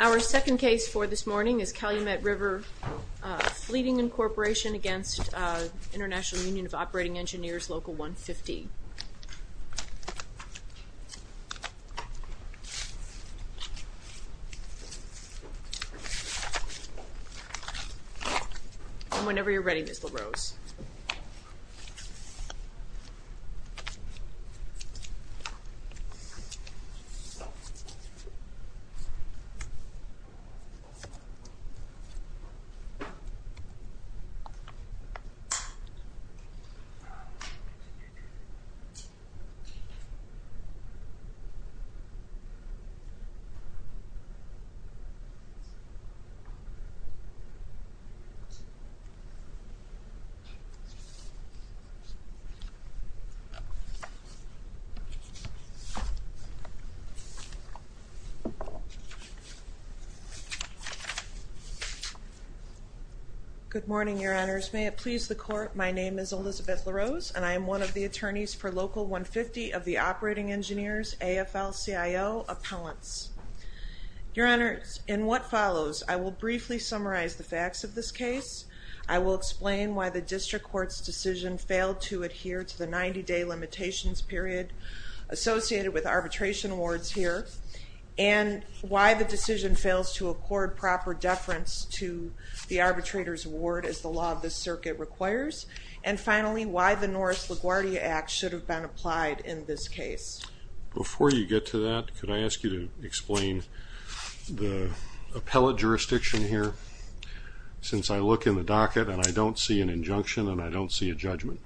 Our second case for this morning is Calumet River Fleeting, Inc. against International Union of Operating Engineers Local 150. And whenever you're ready, Ms. LaRose. Ms. LaRose. Good morning, Your Honors. May it please the Court, my name is Elizabeth LaRose, and I am one of the attorneys for Local 150 of the Operating Engineers AFL-CIO Appellants. Your Honors, in what follows, I will briefly summarize the facts of this case, I will explain why the District Court's decision failed to adhere to the 90-day limitations period associated with arbitration awards here, and why the decision fails to accord proper deference to the arbitrator's award as the law of this circuit requires, and finally, why the Norris LaGuardia Act should have been applied in this case. Before you get to that, could I ask you to explain the appellate jurisdiction here? Since I look in the docket and I don't see an injunction and I don't see a judgment.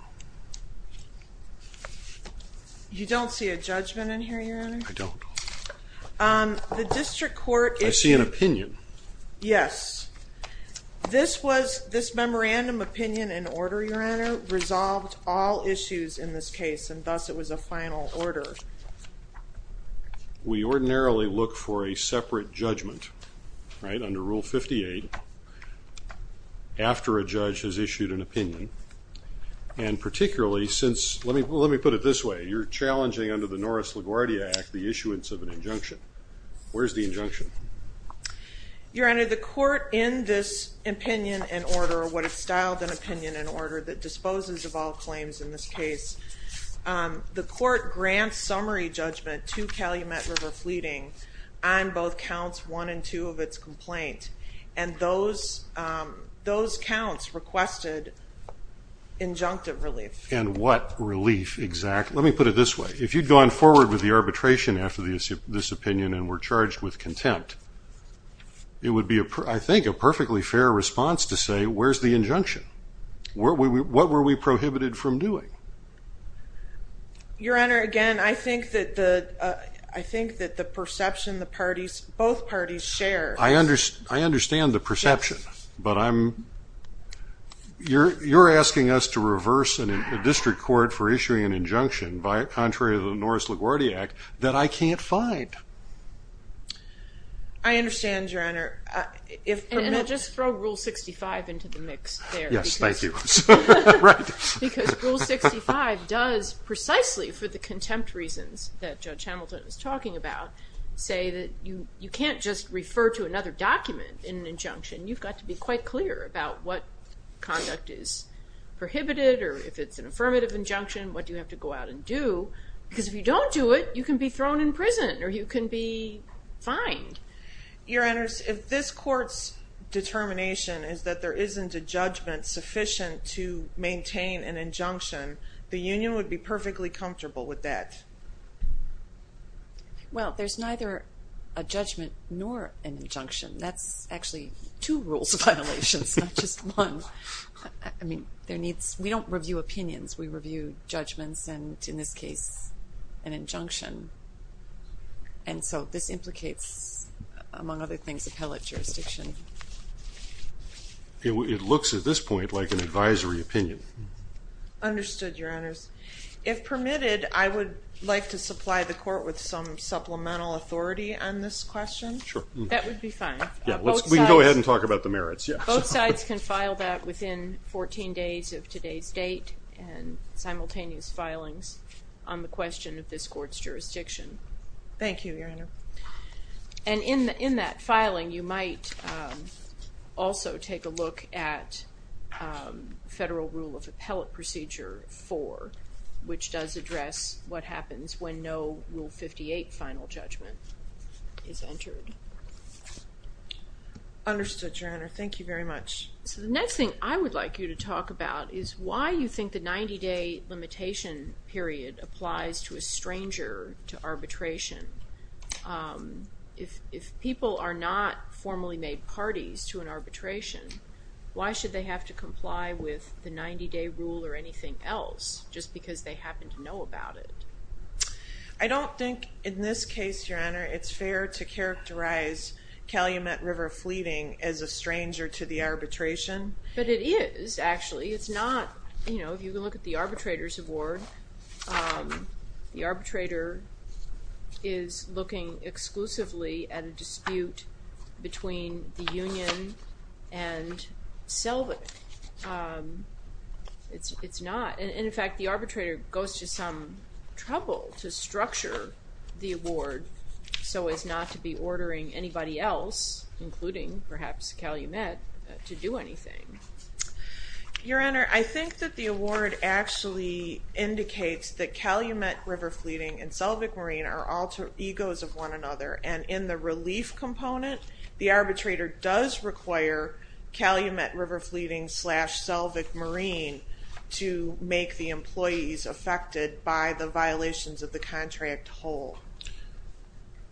You don't see a judgment in here, Your Honor? I don't. I see an opinion. Yes. This memorandum, opinion, and order, Your Honor, resolved all issues in this case, and thus it was a final order. We ordinarily look for a separate judgment, right, under Rule 58, after a judge has issued an opinion, and particularly since, let me put it this way, you're challenging under the Norris LaGuardia Act the issuance of an injunction. Where's the injunction? Your Honor, the court in this opinion and order, or what is styled an opinion and order, that disposes of all claims in this case, the court grants summary judgment to Calumet River Fleeting on both counts one and two of its complaint, and those counts requested injunctive relief. And what relief, exactly? Let me put it this way. If you'd gone forward with the arbitration after this opinion and were charged with contempt, it would be, I think, a perfectly fair response to say, where's the injunction? What were we prohibited from doing? Your Honor, again, I think that the perception the parties, both parties, share. I understand the perception, but I'm, you're asking us to reverse a district court for issuing an injunction, contrary to the Norris LaGuardia Act, that I can't find. I understand, Your Honor. Just throw Rule 65 into the mix there. Yes, thank you. Because Rule 65 does, precisely for the contempt reasons that Judge Hamilton is talking about, say that you can't just refer to another document in an injunction. You've got to be quite clear about what conduct is prohibited or if it's an affirmative injunction, what do you have to go out and do, because if you don't do it, you can be thrown in prison or you can be fined. Your Honors, if this court's determination is that there isn't a judgment sufficient to maintain an injunction, the union would be perfectly comfortable with that. Well, there's neither a judgment nor an injunction. That's actually two rules of violations, not just one. I mean, there needs, we don't review opinions. And so this implicates, among other things, appellate jurisdiction. It looks at this point like an advisory opinion. Understood, Your Honors. If permitted, I would like to supply the court with some supplemental authority on this question. Sure. That would be fine. We can go ahead and talk about the merits. Both sides can file that within 14 days of today's date and simultaneous filings on the question of this court's jurisdiction. Thank you, Your Honor. And in that filing, you might also take a look at Federal Rule of Appellate Procedure 4, which does address what happens when no Rule 58 final judgment is entered. Understood, Your Honor. Thank you very much. So the next thing I would like you to talk about is why you think the 90-day limitation period applies to a stranger to arbitration. If people are not formally made parties to an arbitration, why should they have to comply with the 90-day rule or anything else just because they happen to know about it? I don't think in this case, Your Honor, it's fair to characterize Calumet River Fleeting as a stranger to the arbitration. But it is, actually. It's not. You know, if you look at the arbitrator's award, the arbitrator is looking exclusively at a dispute between the union and Selvig. It's not. And, in fact, the arbitrator goes to some trouble to structure the award so as not to be ordering anybody else, including perhaps Calumet, to do anything. Your Honor, I think that the award actually indicates that Calumet River Fleeting and Selvig Marine are all egos of one another. And in the relief component, the arbitrator does require Calumet River Fleeting slash Selvig Marine to make the employees affected by the violations of the contract whole.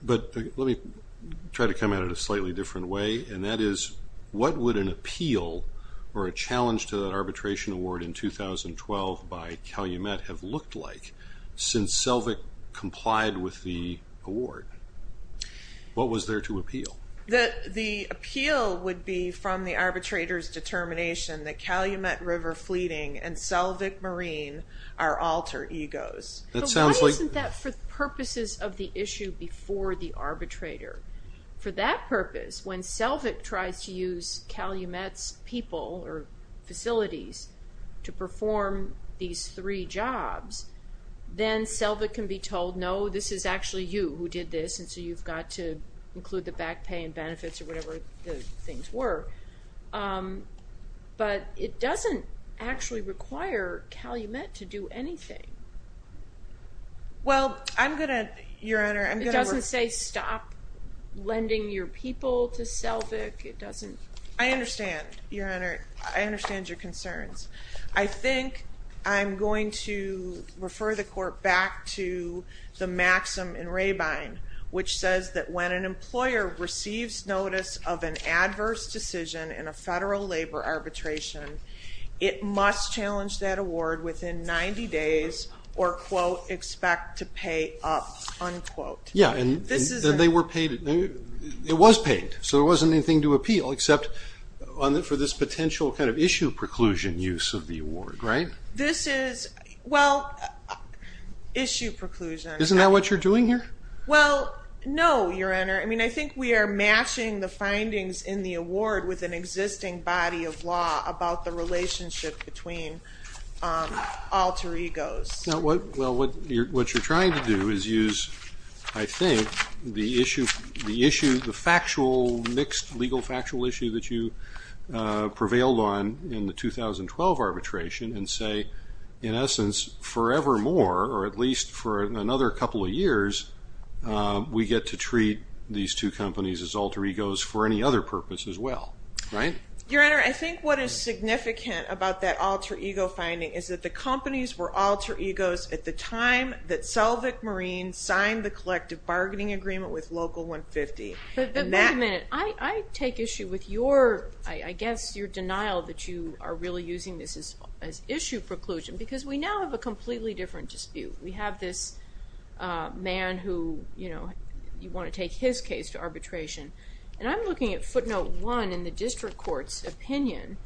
But let me try to come at it a slightly different way. And that is, what would an appeal or a challenge to that arbitration award in 2012 by Calumet have looked like since Selvig complied with the award? What was there to appeal? The appeal would be from the arbitrator's determination that Calumet River Fleeting and Selvig Marine are alter egos. But why isn't that for purposes of the issue before the arbitrator? For that purpose, when Selvig tries to use Calumet's people or facilities to perform these three jobs, then Selvig can be told, no, this is actually you who did this, and so you've got to include the back pay and benefits or whatever the things were. But it doesn't actually require Calumet to do anything. Well, I'm going to, Your Honor. It doesn't say stop lending your people to Selvig. I understand, Your Honor. I understand your concerns. I think I'm going to refer the court back to the maxim in Rabine, which says that when an employer receives notice of an adverse decision in a federal labor arbitration, it must challenge that award within 90 days or, quote, expect to pay up, unquote. Yeah, and they were paid. It was paid, so there wasn't anything to appeal except for this potential kind of issue preclusion use of the award, right? This is, well, issue preclusion. Isn't that what you're doing here? Well, no, Your Honor. I mean, I think we are matching the findings in the award with an existing body of law about the relationship between alter egos. Well, what you're trying to do is use, I think, the issue, the factual, mixed legal factual issue that you prevailed on in the 2012 arbitration and say, in essence, forevermore, or at least for another couple of years, we get to treat these two companies as alter egos for any other purpose as well, right? Your Honor, I think what is significant about that alter ego finding is that the companies were alter egos at the time that Selvig Marine signed the collective bargaining agreement with Local 150. But wait a minute. I take issue with your, I guess, your denial that you are really using this as issue preclusion because we now have a completely different dispute. We have this man who, you know, you want to take his case to arbitration. And I'm looking at footnote one in the district court's opinion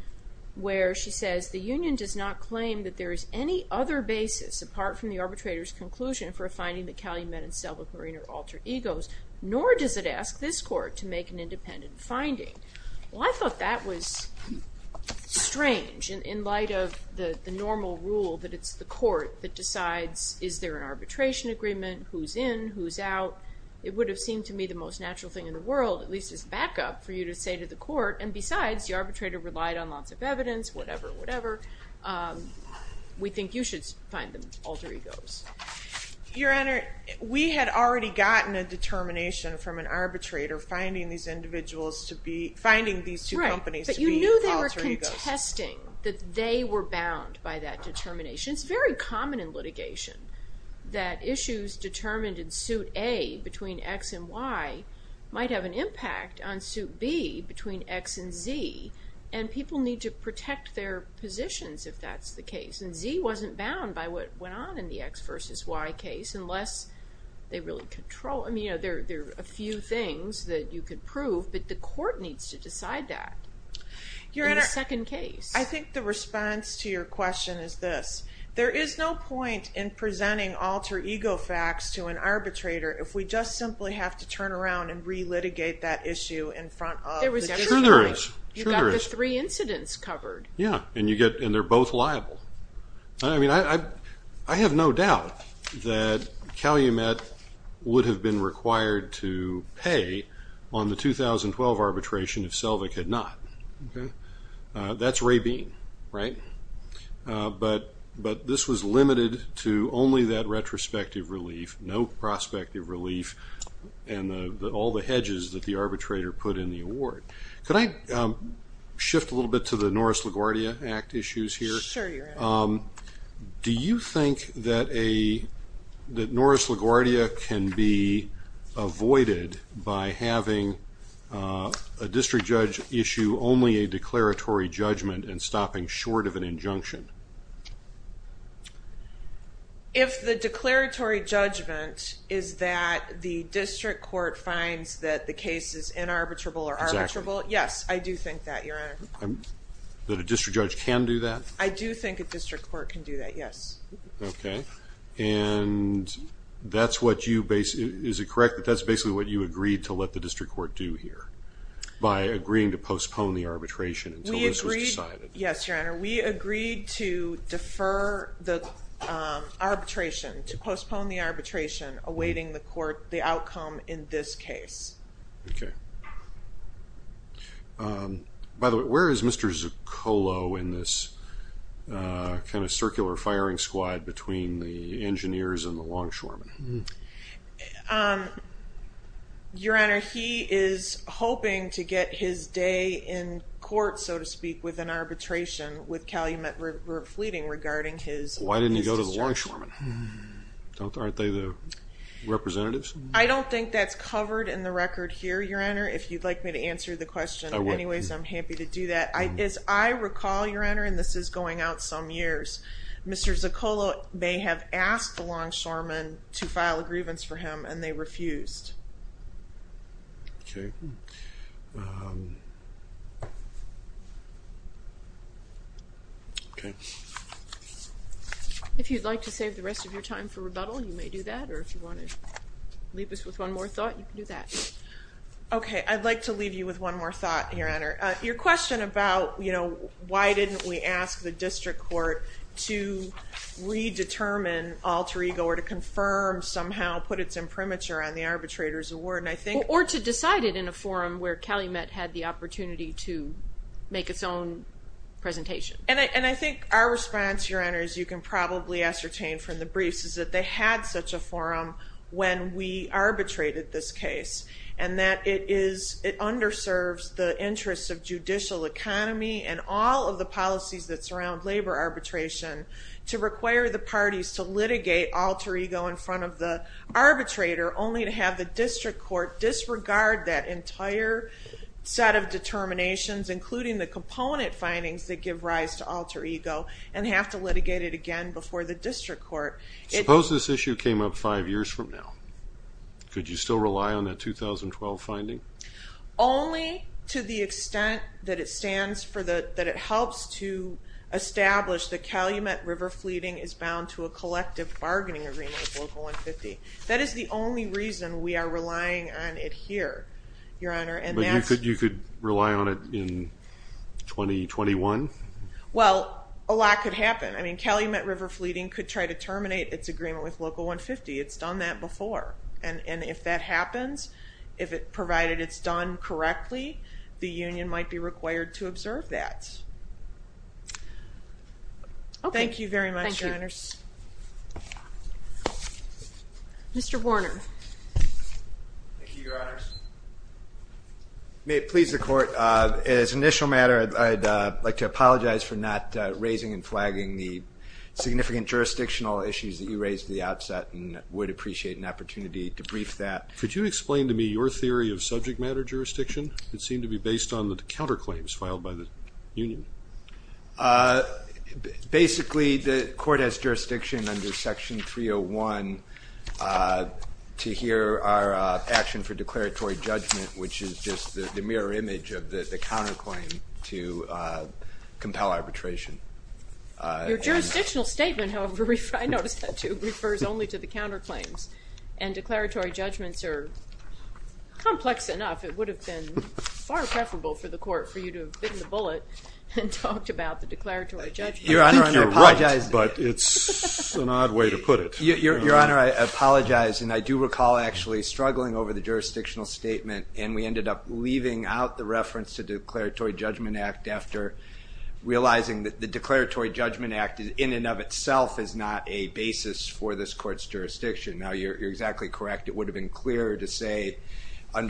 where she says, the union does not claim that there is any other basis apart from the arbitrator's conclusion for a finding that Calumet and Selvig Marine are alter egos, nor does it ask this court to make an independent finding. Well, I thought that was strange in light of the normal rule that it's the court that decides is there an arbitration agreement, who's in, who's out. It would have seemed to me the most natural thing in the world, at least as backup, for you to say to the court, and besides, the arbitrator relied on lots of evidence, whatever, whatever. We think you should find them alter egos. Your Honor, we had already gotten a determination from an arbitrator finding these individuals to be, finding these two companies to be alter egos. Right, but you knew they were contesting that they were bound by that determination. It's very common in litigation that issues determined in suit A between X and Y might have an impact on suit B between X and Z, and people need to protect their positions if that's the case. And Z wasn't bound by what went on in the X versus Y case, unless they really control. I mean, there are a few things that you could prove, but the court needs to decide that in the second case. I think the response to your question is this, there is no point in presenting alter ego facts to an arbitrator if we just simply have to turn around and re-litigate that issue in front of the jury. There is. You've got the three incidents covered. Yeah, and they're both liable. I mean, I have no doubt that Calumet would have been required to pay on the 2012 arbitration if Selvig had not. That's Ray Bean, right? But this was limited to only that retrospective relief, no prospective relief, and all the hedges that the arbitrator put in the award. Could I shift a little bit to the Norris-LaGuardia Act issues here? Sure, you're welcome. Do you think that Norris-LaGuardia can be avoided by having a district judge issue only a declaratory judgment and stopping short of an injunction? If the declaratory judgment is that the district court finds that the case is inarbitrable or arbitrable, yes, I do think that, Your Honor. That a district judge can do that? I do think a district court can do that, yes. Okay. And that's what you – is it correct that that's basically what you agreed to let the district court do here by agreeing to postpone the arbitration until this was decided? Yes, Your Honor. We agreed to defer the arbitration, to postpone the arbitration, awaiting the court the outcome in this case. Okay. By the way, where is Mr. Zuccolo in this kind of circular firing squad between the engineers and the longshoremen? Your Honor, he is hoping to get his day in court, so to speak, with an arbitration with Calumet River Fleeting regarding his district. Why didn't he go to the longshoremen? Aren't they the representatives? I don't think that's covered in the record here, Your Honor, if you'd like me to answer the question. I would. Anyways, I'm happy to do that. As I recall, Your Honor, and this is going out some years, Mr. Zuccolo may have asked the longshoremen to file a grievance for him and they refused. Okay. Okay. If you'd like to save the rest of your time for rebuttal, you may do that, or if you want to leave us with one more thought, you can do that. Okay. I'd like to leave you with one more thought, Your Honor. Your question about, you know, why didn't we ask the district court to redetermine alter ego or to confirm somehow, put its imprimatur on the arbitrator's award, and I think Or to decide it in a forum where Calumet had the opportunity to make its own presentation. And I think our response, Your Honor, as you can probably ascertain from the briefs, is that they had such a forum when we arbitrated this case, and that it is, it underserves the interests of judicial economy and all of the policies that surround labor arbitration to require the parties to litigate alter ego in front of the arbitrator, only to have the district court disregard that entire set of determinations, including the component findings that give rise to alter ego, and have to litigate it again before the district court. Suppose this issue came up five years from now. Could you still rely on that 2012 finding? Only to the extent that it stands for the, that it helps to establish that Calumet River Fleeting is bound to a collective bargaining agreement with Local 150. That is the only reason we are relying on it here, Your Honor. But you could rely on it in 2021? Well, a lot could happen. I mean, Calumet River Fleeting could try to terminate its agreement with Local 150. It's done that before, and if that happens, if it, provided it's done correctly, the union might be required to observe that. Okay. Thank you very much, Your Honors. Thank you. Mr. Warner. Thank you, Your Honors. May it please the court, as an initial matter, I'd like to apologize for not raising and flagging the significant jurisdictional issues that you raised at the outset, and would appreciate an opportunity to brief that. Could you explain to me your theory of subject matter jurisdiction? It seemed to be based on the counterclaims filed by the union. Basically, the court has jurisdiction under Section 301 to hear our action for declaratory judgment, which is just the mirror image of the counterclaim to compel arbitration. Your jurisdictional statement, however, I noticed that too, refers only to the counterclaims, and declaratory judgments are complex enough. It would have been far preferable for the court for you to have bitten the bullet and talked about the declaratory judgment. I think you're right, but it's an odd way to put it. Your Honor, I apologize, and I do recall actually struggling over the jurisdictional statement, and we ended up leaving out the reference to declaratory judgment act after realizing that the declaratory judgment act, in and of itself, is not a basis for this court's jurisdiction. Now, you're exactly correct. It would have been clearer to say that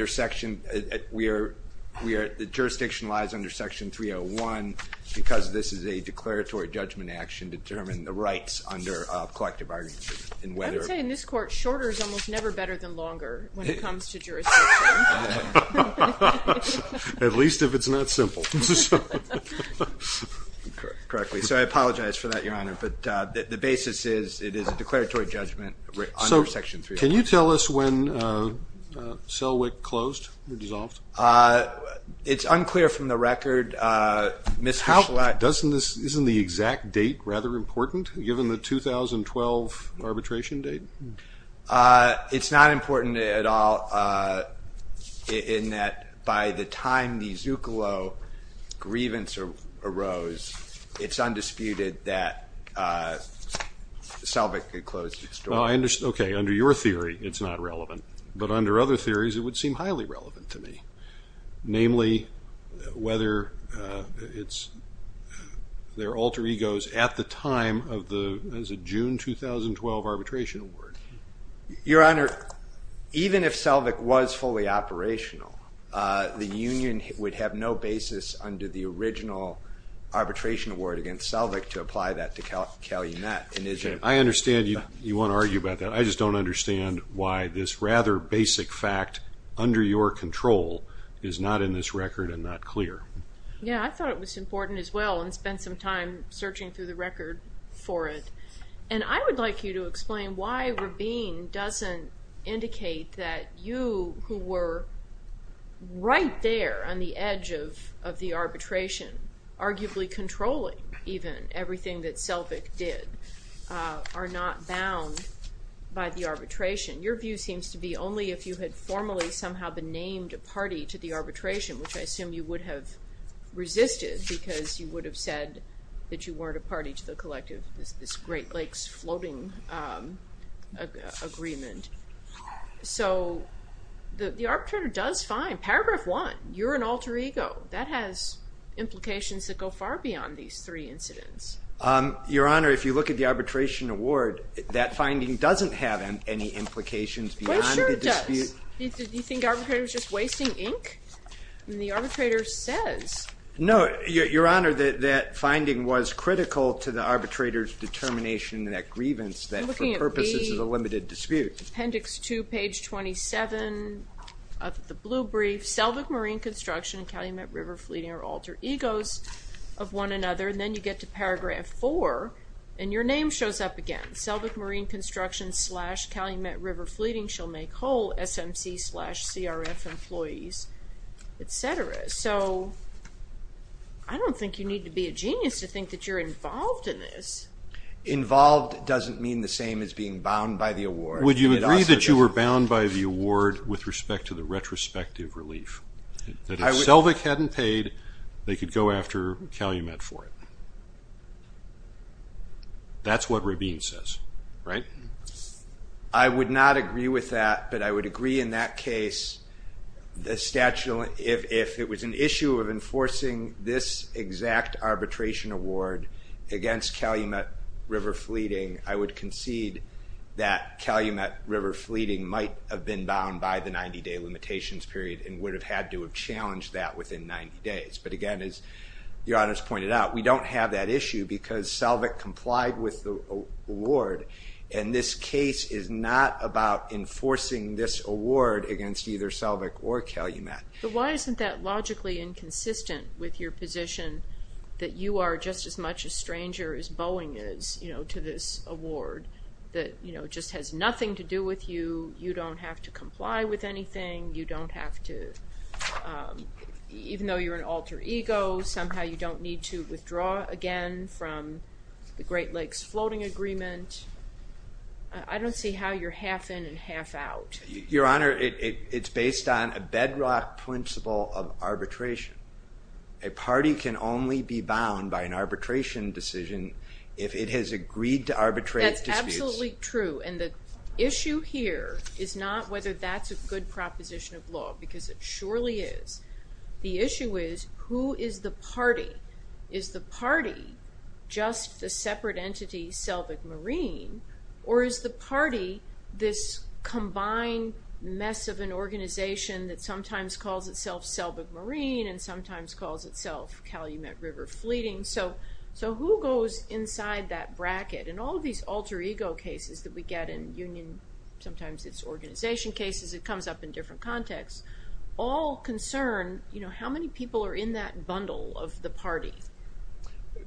jurisdiction lies under Section 301 because this is a declaratory judgment action to determine the rights under collective arbitration. I would say in this court, shorter is almost never better than longer when it comes to jurisdiction. At least if it's not simple. Correctly, so I apologize for that, Your Honor, but the basis is it is a declaratory judgment under Section 301. Can you tell us when Selwick closed or dissolved? It's unclear from the record. Isn't the exact date rather important, given the 2012 arbitration date? It's not important at all in that by the time the Zuccolo grievance arose, it's undisputed that Selwick closed. Okay, under your theory, it's not relevant, but under other theories, it would seem highly relevant to me. Namely, whether it's their alter egos at the time of the June 2012 arbitration award. Your Honor, even if Selwick was fully operational, the union would have no basis under the original arbitration award against Selwick to apply that to Calumet. I understand you want to argue about that. I just don't understand why this rather basic fact under your control is not in this record and not clear. Yeah, I thought it was important as well and spent some time searching through the record for it. And I would like you to explain why Rabin doesn't indicate that you, who were right there on the edge of the arbitration, arguably controlling even everything that Selwick did, are not bound by the arbitration. Your view seems to be only if you had formally somehow been named a party to the arbitration, which I assume you would have resisted because you would have said that you weren't a party to the collective, this Great Lakes floating agreement. So the arbitrator does find, paragraph one, you're an alter ego. That has implications that go far beyond these three incidents. Your Honor, if you look at the arbitration award, that finding doesn't have any implications beyond the dispute. Well, sure it does. Do you think arbitrators are just wasting ink? The arbitrator says... No, Your Honor, that finding was critical to the arbitrator's determination that grievance, that for purposes of a limited dispute. Appendix two, page 27 of the blue brief, Selwick Marine Construction and Calumet River Fleeting are alter egos of one another. And then you get to paragraph four and your name shows up again. Selwick Marine Construction slash Calumet River Fleeting shall make whole SMC slash CRF employees, etc. So I don't think you need to be a genius to think that you're involved in this. Involved doesn't mean the same as being bound by the award. Would you agree that you were bound by the award with respect to the retrospective relief? That if Selwick hadn't paid, they could go after Calumet for it? That's what Rabin says, right? I would not agree with that, but I would agree in that case, if it was an issue of enforcing this exact arbitration award against Calumet River Fleeting, I would concede that Calumet River Fleeting might have been bound by the 90-day limitations period and would have had to have challenged that within 90 days. But again, as the honors pointed out, we don't have that issue because Selwick complied with the award. And this case is not about enforcing this award against either Selwick or Calumet. But why isn't that logically inconsistent with your position that you are just as much a stranger as Boeing is to this award? That just has nothing to do with you. You don't have to comply with anything. You don't have to, even though you're an alter ego, somehow you don't need to withdraw again from the Great Lakes Floating Agreement. I don't see how you're half in and half out. Your Honor, it's based on a bedrock principle of arbitration. A party can only be bound by an arbitration decision if it has agreed to arbitrate disputes. That's absolutely true. And the issue here is not whether that's a good proposition of law, because it surely is. The issue is, who is the party? Is the party just the separate entity Selwick Marine? Or is the party this combined mess of an organization that sometimes calls itself Selwick Marine and sometimes calls itself Calumet River Fleeting? So who goes inside that bracket? And all of these alter ego cases that we get in union, sometimes it's organization cases, it comes up in different contexts, all concern how many people are in that bundle of the party.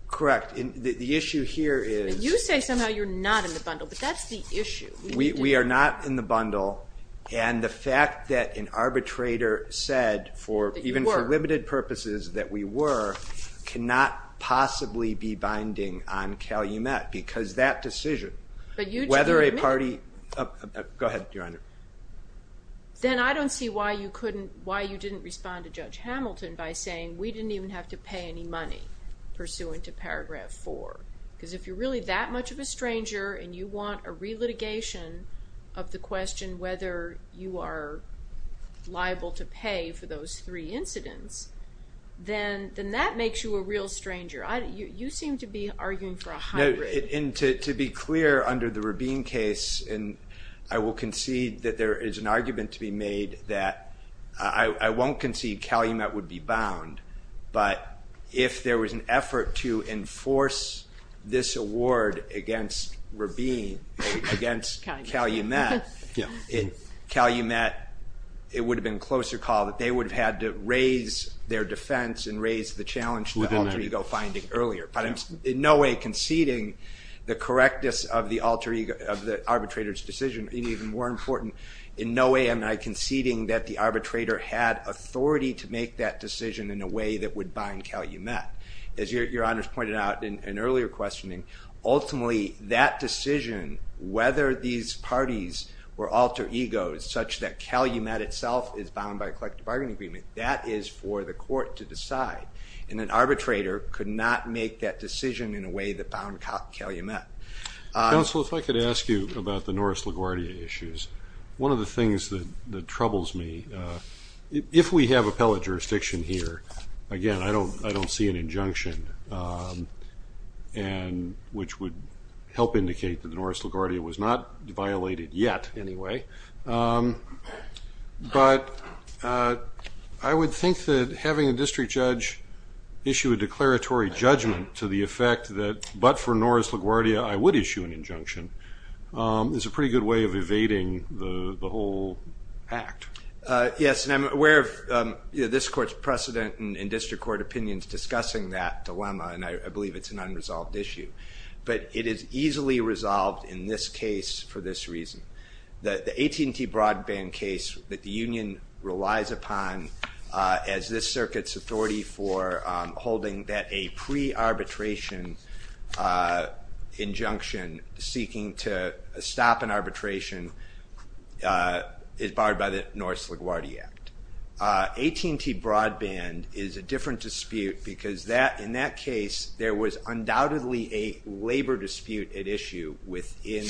Correct. The issue here is- You say somehow you're not in the bundle, but that's the issue. We are not in the bundle. And the fact that an arbitrator said, even for limited purposes, that we were, cannot possibly be binding on Calumet. Because that decision, whether a party- Go ahead, Your Honor. Then I don't see why you didn't respond to Judge Hamilton by saying, we didn't even have to pay any money pursuant to paragraph four. Because if you're really that much of a stranger and you want a relitigation of the question whether you are liable to pay for those three incidents, then that makes you a real stranger. You seem to be arguing for a hybrid. And to be clear, under the Rubin case, and I will concede that there is an argument to be made that I won't concede Calumet would be bound. But if there was an effort to enforce this award against Rubin, against Calumet, Calumet, it would have been closer call that they would have had to raise their defense and raise the challenge to alter ego finding earlier. But in no way conceding the correctness of the alter ego, of the arbitrator's decision. And even more important, in no way am I conceding that the arbitrator had authority to make that decision in a way that would bind Calumet. As Your Honor's pointed out in earlier questioning, ultimately, that decision, whether these parties were alter egos, such that Calumet itself is bound by collective bargaining agreement, that is for the court to decide. And an arbitrator could not make that decision in a way that bound Calumet. Counsel, if I could ask you about the Norris LaGuardia issues. One of the things that troubles me, if we have appellate jurisdiction here, again, I don't see an injunction, which would help indicate that the Norris LaGuardia was not violated yet anyway. But I would think that having a district judge issue a declaratory judgment to the effect that, but for Norris LaGuardia, I would issue an injunction, is a pretty good way of evading the whole act. Yes, and I'm aware of this court's precedent in district court opinions discussing that dilemma, and I believe it's an unresolved issue. But it is easily resolved in this case for this reason. The AT&T broadband case that the union relies upon as this circuit's authority for holding that a pre-arbitration injunction seeking to stop an arbitration is barred by the Norris LaGuardia Act. AT&T broadband is a different dispute because in that case, there was undoubtedly a labor dispute at issue within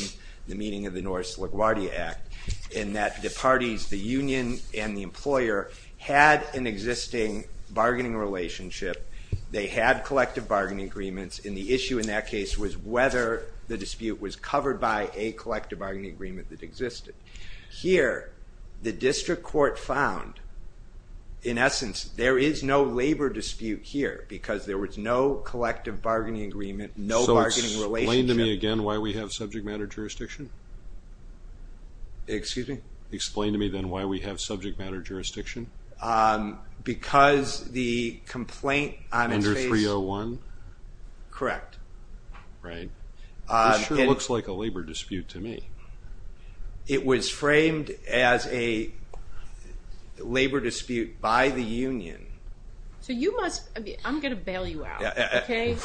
the meaning of the Norris LaGuardia Act in that the parties, the union and the employer, had an existing bargaining relationship. They had collective bargaining agreements, and the issue in that case was whether the dispute was covered by a collective bargaining agreement that existed. Here, the district court found, in essence, there is no labor dispute here because there was no collective bargaining agreement, no bargaining relationship. So explain to me again why we have subject matter jurisdiction? Excuse me? Explain to me then why we have subject matter jurisdiction. Because the complaint on this case... Under 301? Correct. Right. This sure looks like a labor dispute to me. It was framed as a labor dispute by the union. So you must... I'm going to bail you out, okay?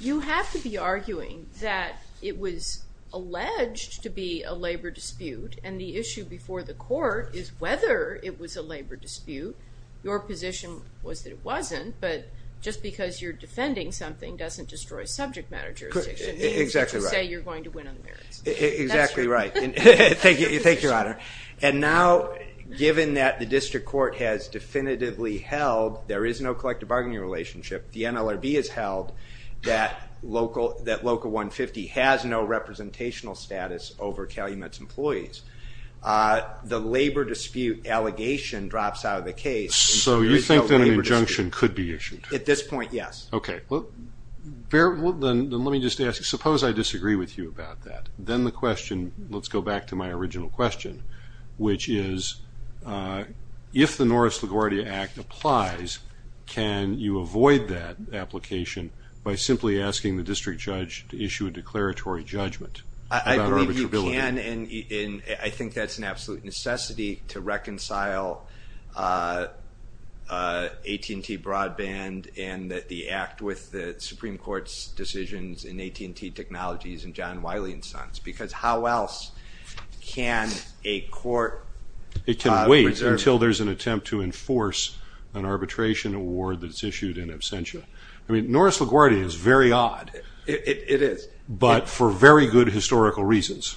You have to be arguing that it was alleged to be a labor dispute, and the issue before the court is whether it was a labor dispute. Your position was that it wasn't, but just because you're defending something doesn't destroy subject matter jurisdiction. Exactly right. Exactly right. Thank you, Your Honor. And now, given that the district court has definitively held there is no collective bargaining relationship, the NLRB has held that LOCA 150 has no representational status over Calumet's employees, the labor dispute allegation drops out of the case. So you think that an injunction could be issued? At this point, yes. Okay. Then let me just ask, suppose I disagree with you about that. Then the question, let's go back to my original question, which is, if the Norris-LaGuardia Act applies, can you avoid that application by simply asking the district judge to issue a declaratory judgment? I believe you can, and I think that's an absolute necessity to reconcile AT&T Broadband and the act with the Supreme Court's decisions in AT&T Technologies and John Wiley and Sons, because how else can a court reserve it? It can wait until there's an attempt to enforce an arbitration award that's issued in absentia. I mean, Norris-LaGuardia is very odd. It is. But for very good historical reasons,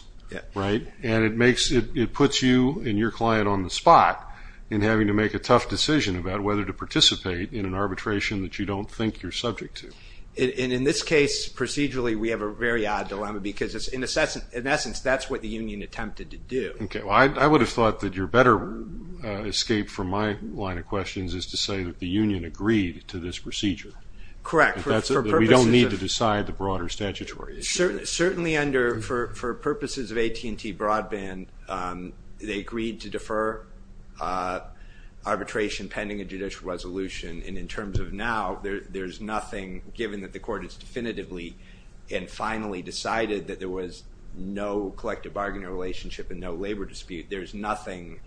right? And it puts you and your client on the spot in having to make a tough decision about whether to participate in an arbitration that you don't think you're subject to. And in this case, procedurally, we have a very odd dilemma because, in essence, that's what the union attempted to do. Okay. Well, I would have thought that your better escape from my line of questions is to say that the union agreed to this procedure. Correct. That we don't need to decide the broader statutory issue. Certainly, for purposes of AT&T Broadband, they agreed to defer arbitration pending a judicial resolution. And in terms of now, there's nothing, given that the court has definitively and finally decided that there was no collective bargaining relationship and no labor dispute, there's nothing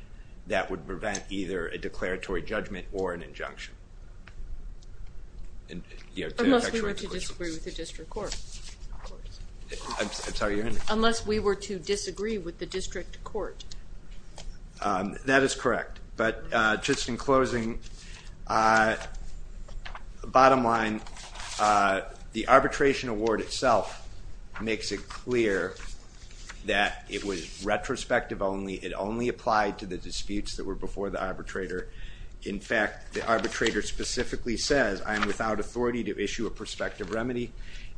that would prevent either a declaratory judgment or an injunction. Unless we were to disagree with the district court. I'm sorry. Unless we were to disagree with the district court. That is correct. But just in closing, bottom line, the arbitration award itself makes it clear that it was retrospective only. It only applied to the disputes that were before the arbitrator. In fact, the arbitrator specifically says, I am without authority to issue a prospective remedy.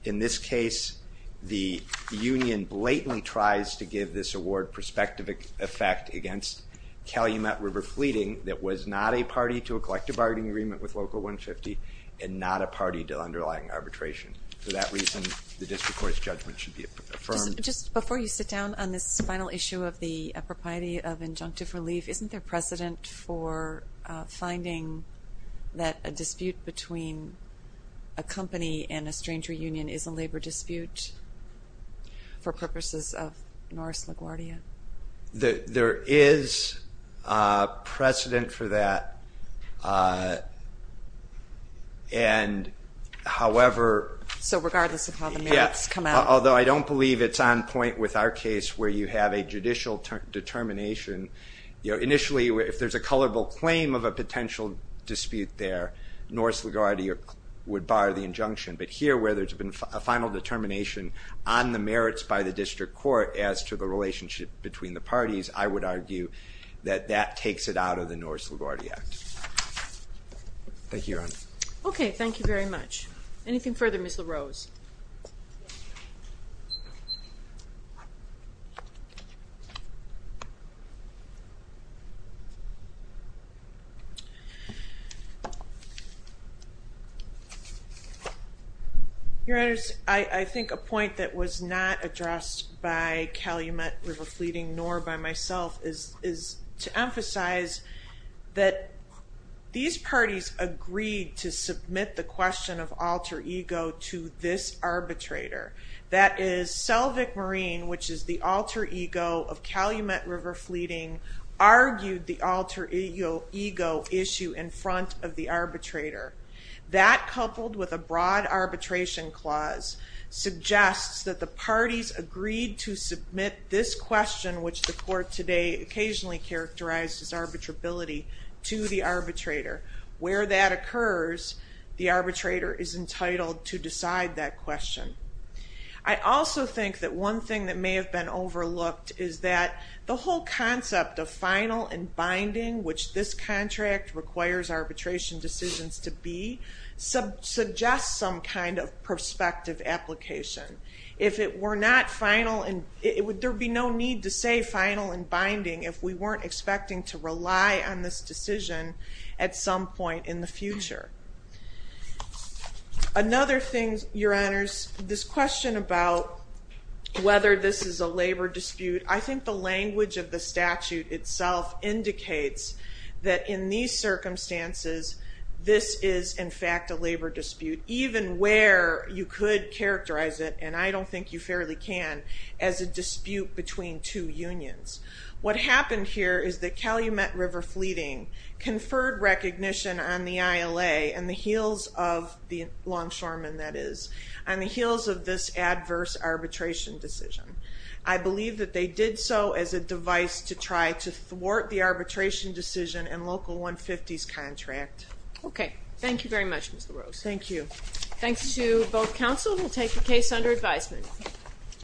In this case, the union blatantly tries to give this award prospective effect against Calumet River Fleeting that was not a party to a collective bargaining agreement with Local 150 and not a party to underlying arbitration. For that reason, the district court's judgment should be affirmed. Just before you sit down on this final issue of the propriety of injunctive relief, isn't there precedent for finding that a dispute between a company and a stranger union is a labor dispute for purposes of Norris LaGuardia? There is precedent for that. And however. So regardless of how the merits come out. Although I don't believe it's on point with our case where you have a judicial determination. Initially, if there's a colorful claim of a potential dispute there, Norris LaGuardia would bar the injunction. But here where there's been a final determination on the merits by the district court as to the relationship between the parties, I would argue that that takes it out of the Norris LaGuardia Act. Thank you, Your Honor. Okay, thank you very much. Anything further, Ms. LaRose? Your Honor, I think a point that was not addressed by Calumet River Fleeting nor by myself is to emphasize that these parties agreed to submit the question of alter ego to this arbitrator. That is Selvig Marine, which is the alter ego of Calumet River Fleeting, argued the alter ego issue in front of the arbitrator. That, coupled with a broad arbitration clause, suggests that the parties agreed to submit this question, which the court today occasionally characterized as arbitrability, to the arbitrator. Where that occurs, the arbitrator is entitled to decide that question. I also think that one thing that may have been overlooked is that the whole concept of final and binding, which this contract requires arbitration decisions to be, suggests some kind of prospective application. If it were not final, there would be no need to say final and binding if we weren't expecting to rely on this decision at some point in the future. Another thing, Your Honors, this question about whether this is a labor dispute, I think the language of the statute itself indicates that in these circumstances, this is in fact a labor dispute, even where you could characterize it, and I don't think you fairly can, as a dispute between two unions. What happened here is that Calumet River Fleeting conferred recognition on the ILA, on the heels of the longshoremen, that is, on the heels of this adverse arbitration decision. I believe that they did so as a device to try to thwart the arbitration decision in Local 150's contract. Okay. Thank you very much, Ms. LaRose. Thank you. Thanks to both counsel. We'll take the case under advisement.